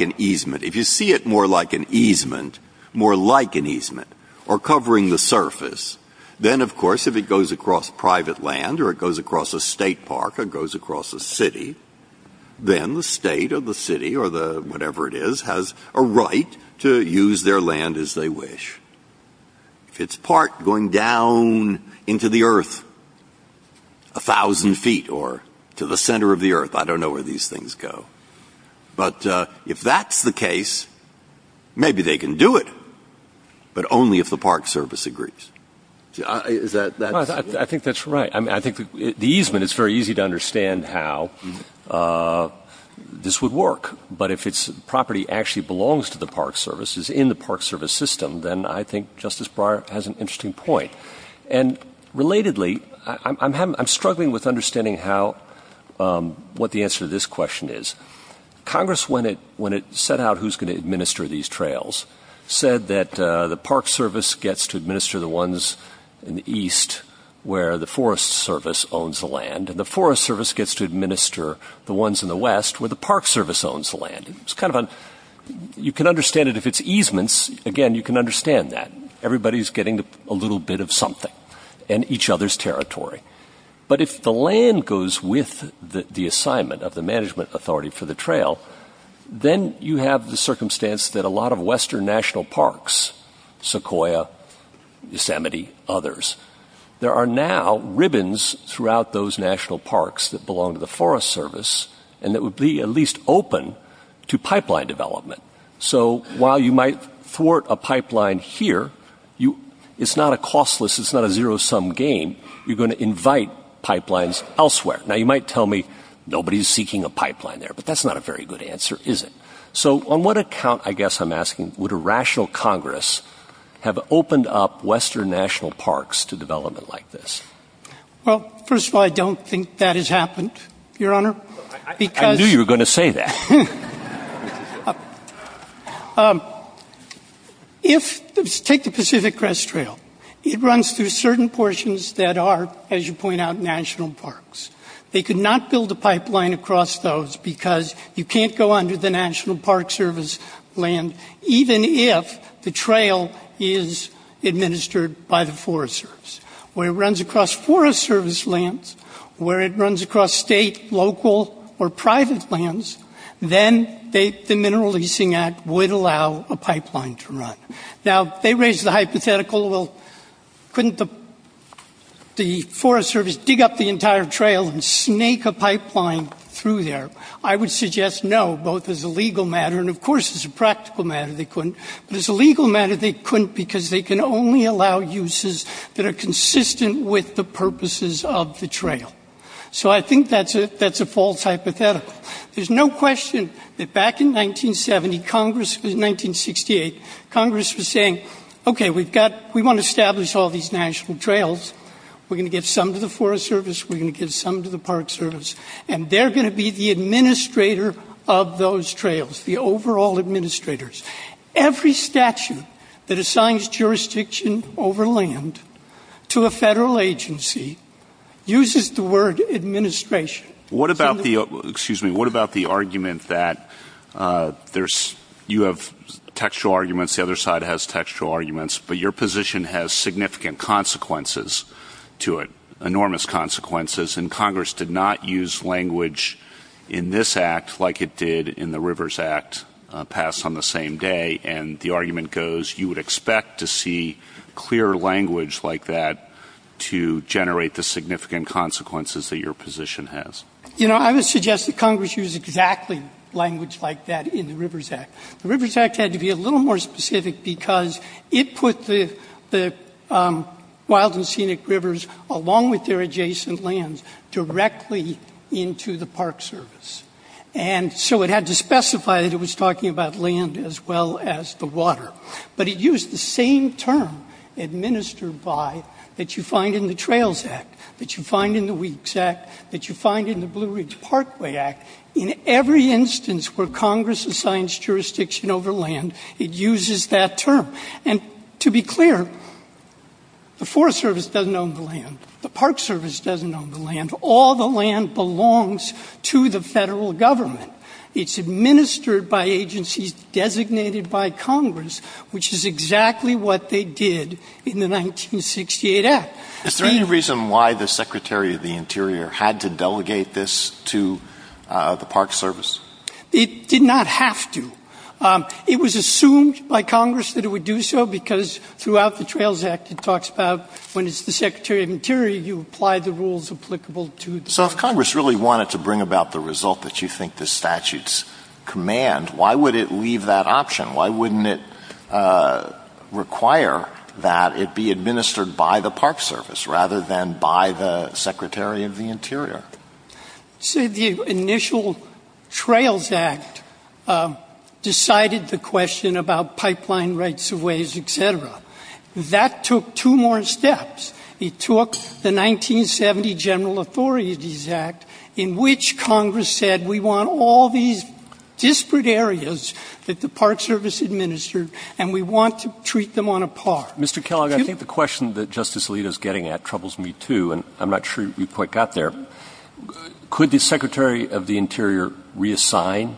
an easement. If you see it more like an easement, more like an easement, or covering the surface, then, of course, if it goes across private land or it goes across a state park or it goes across a city, then the state or the city or the whatever it is has a right to use their land as they wish. If it's a park going down into the earth a thousand feet or to the center of the earth, I don't know where these things go. But if that's the case, maybe they can do it, but only if the Park Service agrees. Is that the answer? I think that's right. I think the easement, it's very easy to understand how this would work. But if its property actually belongs to the Park Service, is in the Park Service system, then I think Justice Breyer has an interesting point. And relatedly, I'm struggling with understanding what the answer to this question is. Congress, when it set out who's going to administer these trails, said that the Park Service gets to administer the ones in the east where the Forest Service owns the land. And the Forest Service gets to administer the ones in the west where the Park Service owns the land. You can understand it if it's easements. Again, you can understand that. Everybody's getting a little bit of something in each other's territory. But if the land goes with the assignment of the Management Authority for the trail, then you have the circumstance that a lot of western national parks, Sequoia, Yosemite, others, there are now ribbons throughout those national parks that belong to the Forest Service, and that would be at least open to pipeline development. So while you might thwart a pipeline here, it's not a costless, it's not a zero-sum game. You're going to invite pipelines elsewhere. Now, you might tell me nobody's seeking a pipeline there, but that's not a very good answer, is it? So on what account, I guess I'm asking, would a rational Congress have opened up western national parks to development like this? Well, first of all, I don't think that has happened, Your Honor. I knew you were going to say that. Take the Pacific Crest Trail. It runs through certain portions that are, as you point out, national parks. They could not build a pipeline across those because you can't go under the National Park Service land even if the trail is administered by the Forest Service. Where it runs across Forest Service lands, where it runs across state, local, or private lands, then the Mineral Leasing Act would allow a pipeline to run. Now, they raise the hypothetical, well, couldn't the Forest Service dig up the entire trail and snake a pipeline through there? I would suggest no, both as a legal matter, and of course as a practical matter they couldn't, but as a legal matter they couldn't because they can only allow uses that are consistent with the purposes of the trail. So I think that's a false hypothetical. There's no question that back in 1968, Congress was saying, okay, we want to establish all these national trails, we're going to give some to the Forest Service, we're going to give some to the Park Service, and they're going to be the administrator of those trails, the overall administrators. Every statute that assigns jurisdiction over land to a federal agency uses the word administration. What about the argument that you have textual arguments, the other side has textual arguments, but your position has significant consequences to it, enormous consequences, and Congress did not use language in this Act like it did in the Rivers Act passed on the same day, and the argument goes you would expect to see clear language like that to generate the significant consequences that your position has. You know, I would suggest that Congress used exactly language like that in the Rivers Act. The Rivers Act had to be a little more specific because it put the wild and scenic rivers, along with their adjacent lands, directly into the Park Service. And so it had to specify that it was talking about land as well as the water. But it used the same term administered by that you find in the Trails Act, that you find in the Weeks Act, that you find in the Blue Ridge Parkway Act. In every instance where Congress assigns jurisdiction over land, it uses that term. And to be clear, the Forest Service doesn't own the land. The Park Service doesn't own the land. All the land belongs to the Federal Government. It's administered by agencies designated by Congress, which is exactly what they did in the 1968 Act. Is there any reason why the Secretary of the Interior had to delegate this to the Park Service? It did not have to. It was assumed by Congress that it would do so because throughout the Trails Act, it talks about when it's the Secretary of the Interior, you apply the rules applicable to the Park Service. So if Congress really wanted to bring about the result that you think the statutes command, why would it leave that option? Why wouldn't it require that it be administered by the Park Service rather than by the Secretary of the Interior? So the initial Trails Act decided the question about pipeline rights-of-ways, et cetera. That took two more steps. It took the 1970 General Authorities Act, in which Congress said we want all these disparate areas that the Park Service administered, and we want to treat them on a par. Mr. Kellogg, I think the question that Justice Alito is getting at troubles me, too, and I'm not sure you quite got there. Could the Secretary of the Interior reassign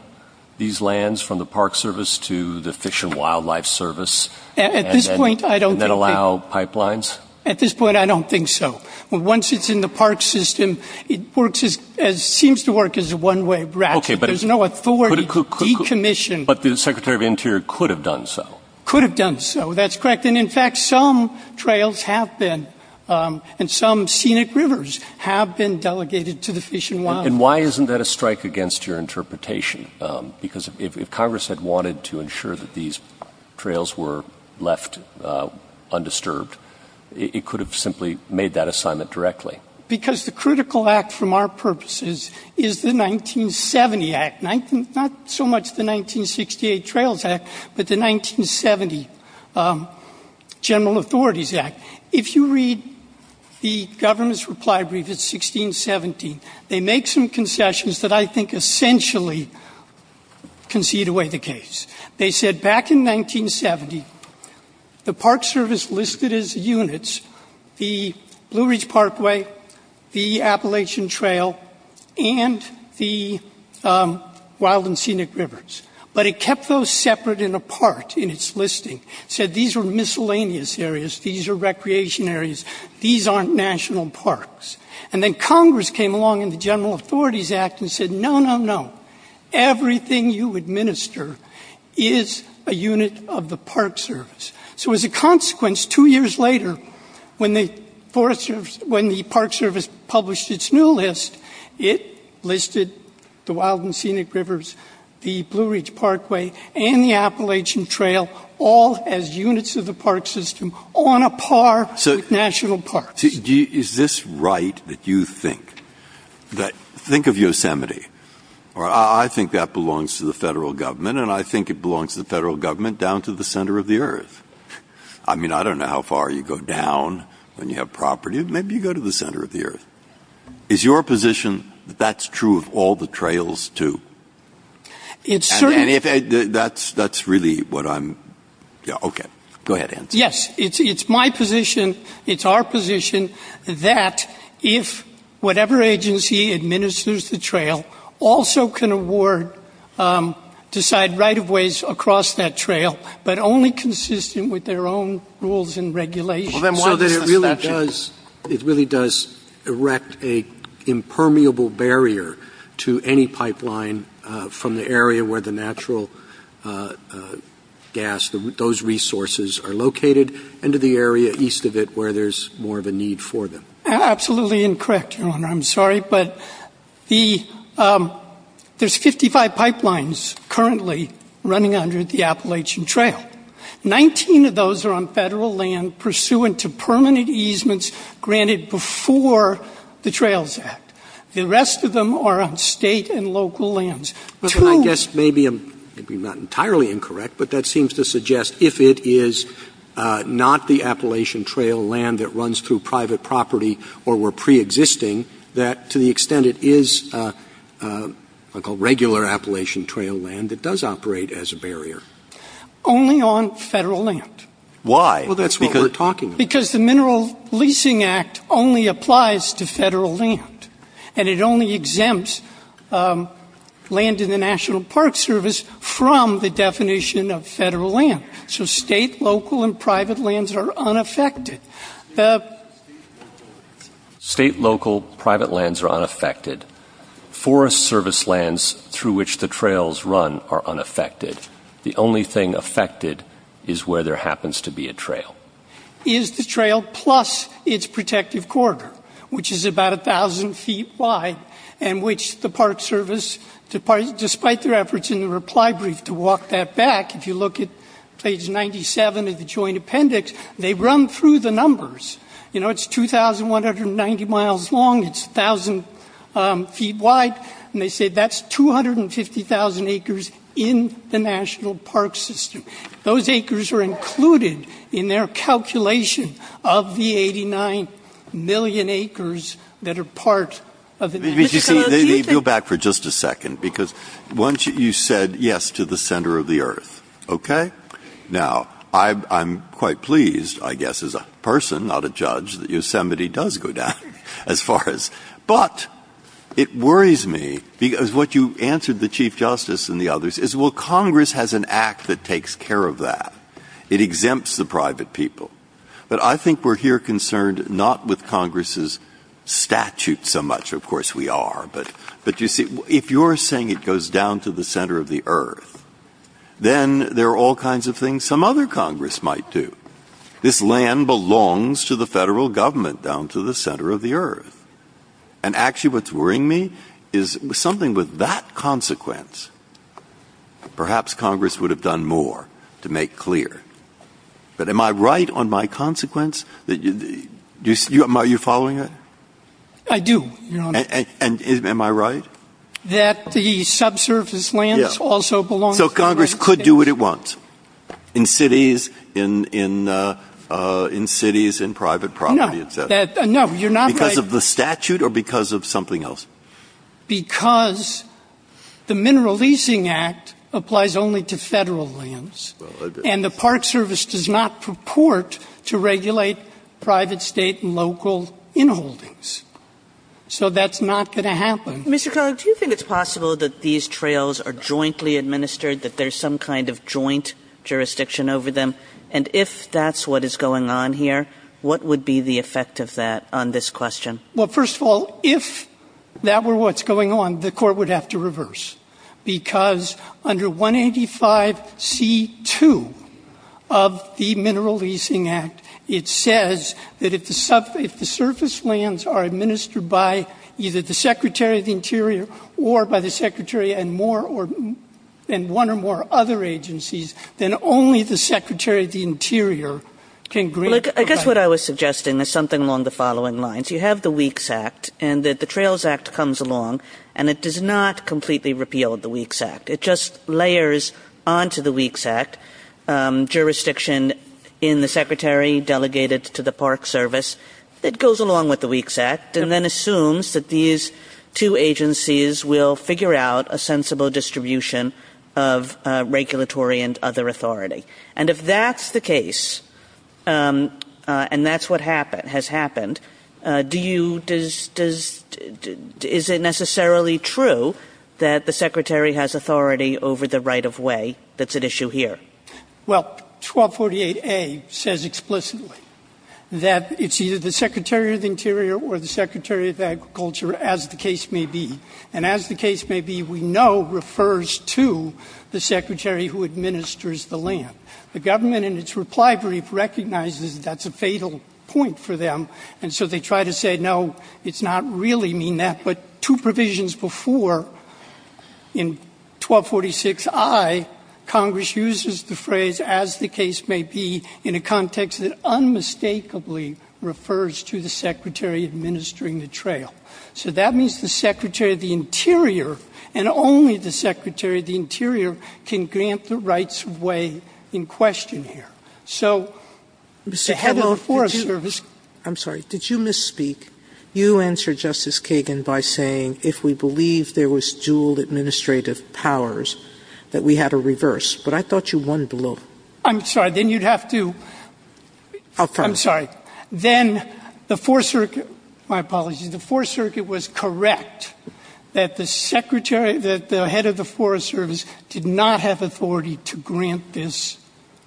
these lands from the Park Service to the Fish and Wildlife Service and then allow pipelines? At this point, I don't think so. Once it's in the park system, it works as – seems to work as a one-way ratchet. There's no authority to decommission. But the Secretary of the Interior could have done so. Could have done so. That's correct. And, in fact, some trails have been, and some scenic rivers have been delegated to the Fish and Wildlife. And why isn't that a strike against your interpretation? Because if Congress had wanted to ensure that these trails were left undisturbed, it could have simply made that assignment directly. Because the critical act from our purposes is the 1970 Act, not so much the 1968 Trails Act, but the 1970 General Authorities Act. If you read the government's reply brief, it's 1617, they make some concessions that I think essentially concede away the case. They said back in 1970, the Park Service listed as units the Blue Ridge Parkway, the Appalachian Trail, and the Wild and Scenic Rivers. But it kept those separate and apart in its listing. It said these are miscellaneous areas. These are recreation areas. These aren't national parks. And then Congress came along in the General Authorities Act and said, no, no, no, everything you administer is a unit of the Park Service. So, as a consequence, two years later, when the Park Service published its new list, it listed the Wild and Scenic Rivers, the Blue Ridge Parkway, and the Appalachian Trail all as units of the park system on a par with national parks. So, is this right that you think that, think of Yosemite, or I think that belongs to the federal government, and I think it belongs to the federal government down to the center of the earth. I mean, I don't know how far you go down when you have property, but maybe you go to the center of the earth. Is your position that that's true of all the trails, too? And that's really what I'm, yeah, okay. Go ahead, Hans. Yes. It's my position, it's our position, that if whatever agency administers the trail also can award decide right-of-ways across that trail, but only consistent with their own rules and regulations. So that it really does erect an impermeable barrier to any pipeline from the area where the natural gas, those resources are located, and to the area east of it where there's more of a need for them. Absolutely incorrect, Your Honor. I'm sorry, but there's 55 pipelines currently running under the Appalachian Trail. Correct. 19 of those are on Federal land pursuant to permanent easements granted before the Trails Act. The rest of them are on State and local lands. I guess maybe I'm not entirely incorrect, but that seems to suggest if it is not the Appalachian Trail land that runs through private property or were preexisting, that to the extent it is a regular Appalachian Trail land, it does operate as a barrier. Only on Federal land. Why? Well, that's what we're talking about. Because the Mineral Leasing Act only applies to Federal land, and it only exempts land in the National Park Service from the definition of Federal land. So State, local, and private lands are unaffected. State, local, private lands are unaffected. Forest service lands through which the trails run are unaffected. The only thing affected is where there happens to be a trail. Is the trail plus its protective corridor, which is about 1,000 feet wide, and which the Park Service, despite their efforts in the reply brief to walk that back, if you look at page 97 of the Joint Appendix, they run through the numbers. You know, it's 2,190 miles long. It's 1,000 feet wide. And they say that's 250,000 acres in the National Park System. Those acres are included in their calculation of the 89 million acres that are part of the National Park Service. Breyer. Go back for just a second. Because once you said yes to the center of the earth, okay? Now, I'm quite pleased, I guess, as a person, not a judge, that Yosemite does go down as far as. But it worries me because what you answered the Chief Justice and the others is, well, Congress has an act that takes care of that. It exempts the private people. But I think we're here concerned not with Congress's statute so much. Of course, we are. But, you see, if you're saying it goes down to the center of the earth, then there are all kinds of things some other Congress might do. This land belongs to the federal government down to the center of the earth. And, actually, what's worrying me is something with that consequence, perhaps Congress would have done more to make clear. But am I right on my consequence? Are you following that? I do, Your Honor. And am I right? That the subsurface lands also belong to the federal government. So Congress could do what it wants in cities, in private property, et cetera. No, you're not right. Because of the statute or because of something else? Because the Mineral Leasing Act applies only to federal lands. And the Park Service does not purport to regulate private, state, and local inholdings. So that's not going to happen. Mr. Connelly, do you think it's possible that these trails are jointly administered, that there's some kind of joint jurisdiction over them? And if that's what is going on here, what would be the effect of that on this question? Well, first of all, if that were what's going on, the Court would have to reverse. Because under 185C2 of the Mineral Leasing Act, it says that if the surface lands are administered by either the Secretary of the Interior or by the Secretary and one or more other agencies, then only the Secretary of the Interior can grant. I guess what I was suggesting is something along the following lines. You have the Weeks Act, and the Trails Act comes along, and it does not completely repeal the Weeks Act. It just layers onto the Weeks Act jurisdiction in the Secretary delegated to the Park Service. It goes along with the Weeks Act and then assumes that these two agencies will figure out a sensible distribution of regulatory and other authority. And if that's the case, and that's what has happened, is it necessarily true that the Secretary has authority over the right-of-way that's at issue here? Well, 1248A says explicitly that it's either the Secretary of the Interior or the Secretary of Agriculture, as the case may be. And as the case may be, we know refers to the Secretary who administers the land. The government, in its reply brief, recognizes that that's a fatal point for them, and so they try to say, no, it's not really mean that. But two provisions before, in 1246I, Congress uses the phrase, as the case may be, in a context that unmistakably refers to the Secretary administering the trail. So that means the Secretary of the Interior, and only the Secretary of the Interior, can grant the rights-of-way in question here. So the head of the Forest Service ---- if we believe there was dual administrative powers, that we had to reverse. But I thought you won below. I'm sorry. Then you'd have to ---- I'm sorry. Then the Fourth Circuit ---- my apologies. The Fourth Circuit was correct that the Secretary, that the head of the Forest Service, did not have authority to grant this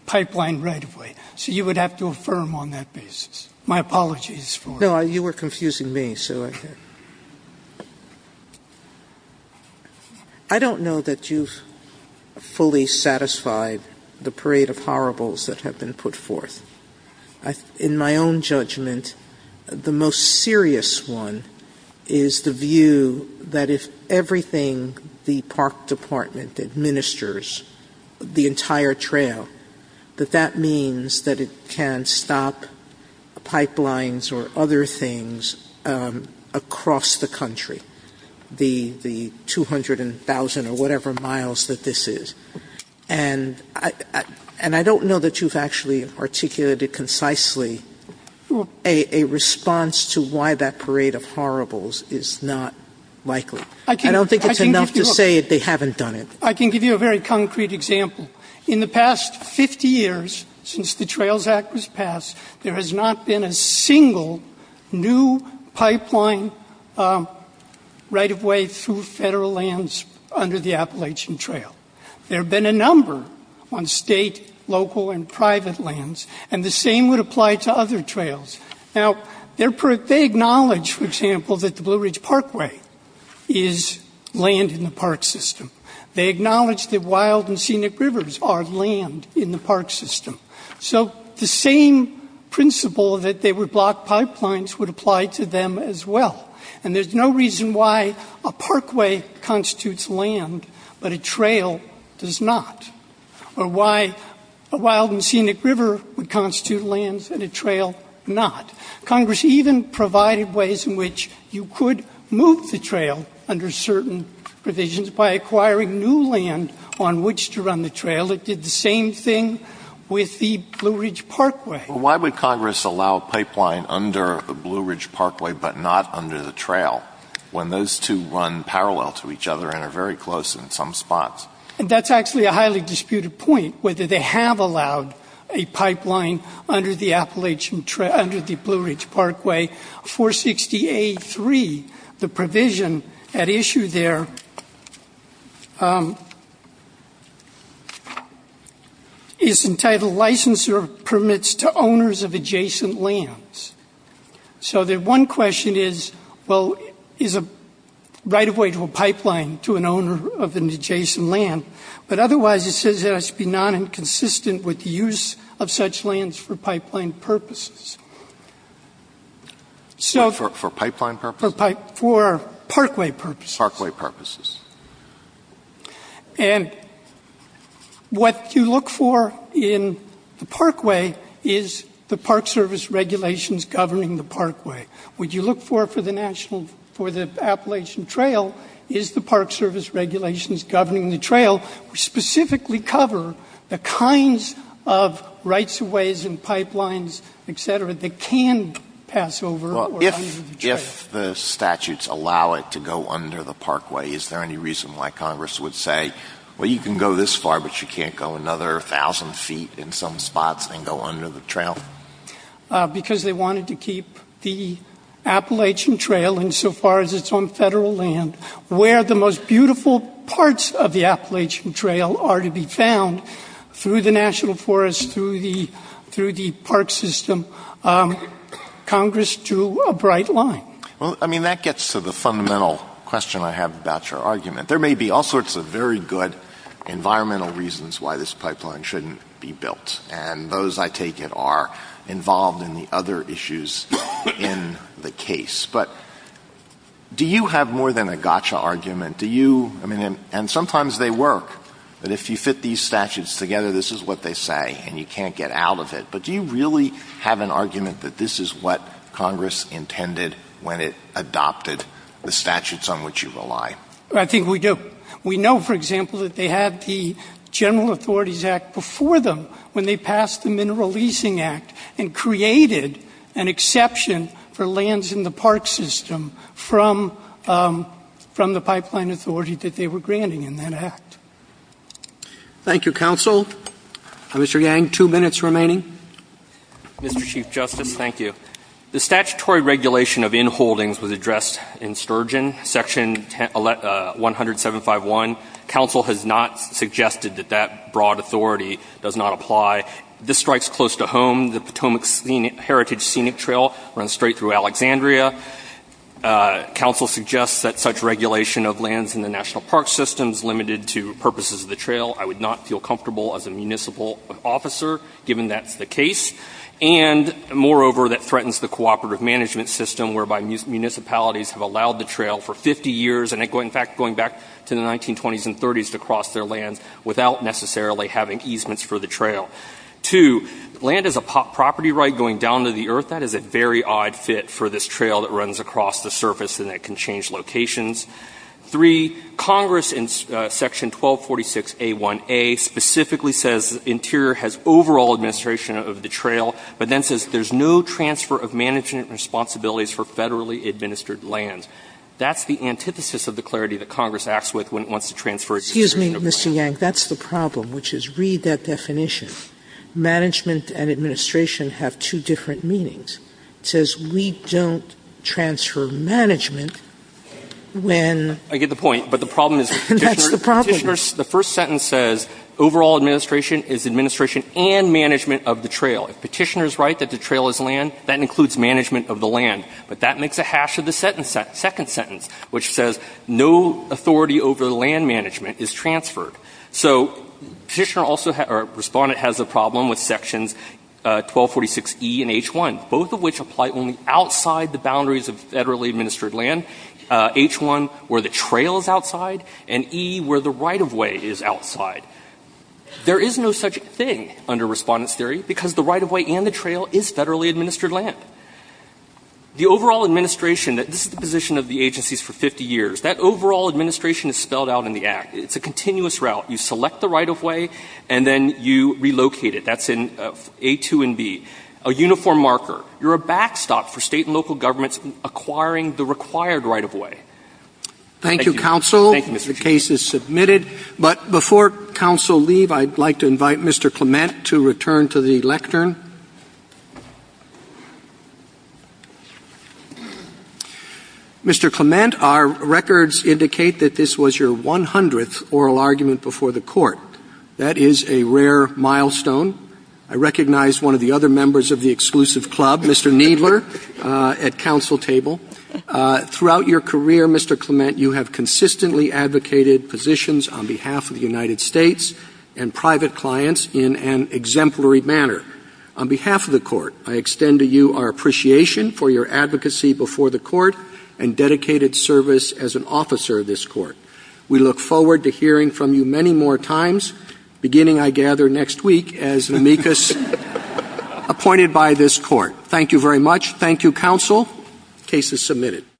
pipeline right-of-way. So you would have to affirm on that basis. My apologies for ---- No, you were confusing me. I don't know that you've fully satisfied the parade of horribles that have been put forth. In my own judgment, the most serious one is the view that if everything the Park Department administers, the entire trail, that that means that it can stop pipelines or other things across the country, the 200,000 or whatever miles that this is. And I don't know that you've actually articulated concisely a response to why that parade of horribles is not likely. I don't think it's enough to say they haven't done it. I can give you a very concrete example. In the past 50 years since the Trails Act was passed, there has not been a single new pipeline right-of-way through Federal lands under the Appalachian Trail. There have been a number on State, local, and private lands. And the same would apply to other trails. Now, they acknowledge, for example, that the Blue Ridge Parkway is land in the park system. They acknowledge that wild and scenic rivers are land in the park system. So the same principle that they would block pipelines would apply to them as well. And there's no reason why a parkway constitutes land but a trail does not, or why a wild and scenic river would constitute lands and a trail not. Congress even provided ways in which you could move the trail under certain provisions by acquiring new land on which to run the trail. It did the same thing with the Blue Ridge Parkway. But why would Congress allow a pipeline under the Blue Ridge Parkway but not under the trail when those two run parallel to each other and are very close in some spots? And that's actually a highly disputed point, whether they have allowed a pipeline under the Appalachian Trail, under the Blue Ridge Parkway. 460A3, the provision at issue there is entitled Licenser Permits to Owners of Adjacent Lands. So the one question is, well, is a right-of-way to a pipeline to an owner of an adjacent land? But otherwise it says it has to be non-inconsistent with the use of such lands for pipeline purposes. For pipeline purposes? For parkway purposes. Parkway purposes. And what you look for in the parkway is the Park Service regulations governing the parkway. What you look for for the Appalachian Trail is the Park Service regulations governing the trail specifically cover the kinds of rights-of-ways and pipelines, et cetera, that can pass over or under the trail. Well, if the statutes allow it to go under the parkway, is there any reason why Congress would say, well, you can go this far, but you can't go another thousand feet in some spots and go under the trail? Because they wanted to keep the Appalachian Trail, insofar as it's on Federal land, where the most beautiful parts of the Appalachian Trail are to be found, through the National Forest, through the park system. Congress drew a bright line. Well, I mean, that gets to the fundamental question I have about your argument. There may be all sorts of very good environmental reasons why this pipeline shouldn't be built. And those, I take it, are involved in the other issues in the case. But do you have more than a gotcha argument? Do you — I mean, and sometimes they work, that if you fit these statutes together, this is what they say, and you can't get out of it. But do you really have an argument that this is what Congress intended when it adopted the statutes on which you rely? I think we do. We know, for example, that they had the General Authorities Act before them when they and created an exception for lands in the park system from the pipeline authority that they were granting in that act. Thank you, Counsel. Mr. Yang, two minutes remaining. Mr. Chief Justice, thank you. The statutory regulation of inholdings was addressed in Sturgeon, Section 107.5.1. Counsel has not suggested that that broad authority does not apply. This strikes close to home. The Potomac Heritage Scenic Trail runs straight through Alexandria. Counsel suggests that such regulation of lands in the national park system is limited to purposes of the trail. I would not feel comfortable as a municipal officer, given that's the case. And, moreover, that threatens the cooperative management system, whereby municipalities have allowed the trail for 50 years and, in fact, going back to the 1920s and 30s to cross their lands without necessarily having easements for the trail. Two, land as a property right going down to the earth, that is a very odd fit for this trail that runs across the surface and that can change locations. Three, Congress in Section 1246a1a specifically says Interior has overall administration of the trail, but then says there's no transfer of management responsibilities for federally administered lands. That's the antithesis of the clarity that Congress acts with when it wants to transfer its administration of land. Sotomayor, Mr. Yang, that's the problem, which is read that definition. Management and administration have two different meanings. It says we don't transfer management when. Yang, I get the point, but the problem is Petitioner's first sentence says overall administration is administration and management of the trail. If Petitioner's right that the trail is land, that includes management of the land. But that makes a hash of the second sentence, which says no authority over land management is transferred. So Petitioner also or Respondent has a problem with Sections 1246e and h1, both of which apply only outside the boundaries of federally administered land, h1 where the trail is outside and e where the right-of-way is outside. There is no such thing under Respondent's theory because the right-of-way and the trail is federally administered land. The overall administration, this is the position of the agencies for 50 years, that it's a continuous route. You select the right-of-way and then you relocate it. That's in A2 and B. A uniform marker. You're a backstop for State and local governments acquiring the required right-of-way. Thank you. Roberts. Thank you, counsel. The case is submitted. But before counsel leave, I'd like to invite Mr. Clement to return to the lectern. Mr. Clement, our records indicate that this was your 100th oral argument before the Court. That is a rare milestone. I recognize one of the other members of the exclusive club, Mr. Kneedler, at counsel table. Throughout your career, Mr. Clement, you have consistently advocated positions on behalf of the United States and private clients in an exemplary manner. On behalf of the Court, I extend to you our appreciation for your advocacy before the Court and dedicated service as an officer of this Court. We look forward to hearing from you many more times, beginning, I gather, next week as amicus appointed by this Court. Thank you very much. Thank you, counsel. The case is submitted.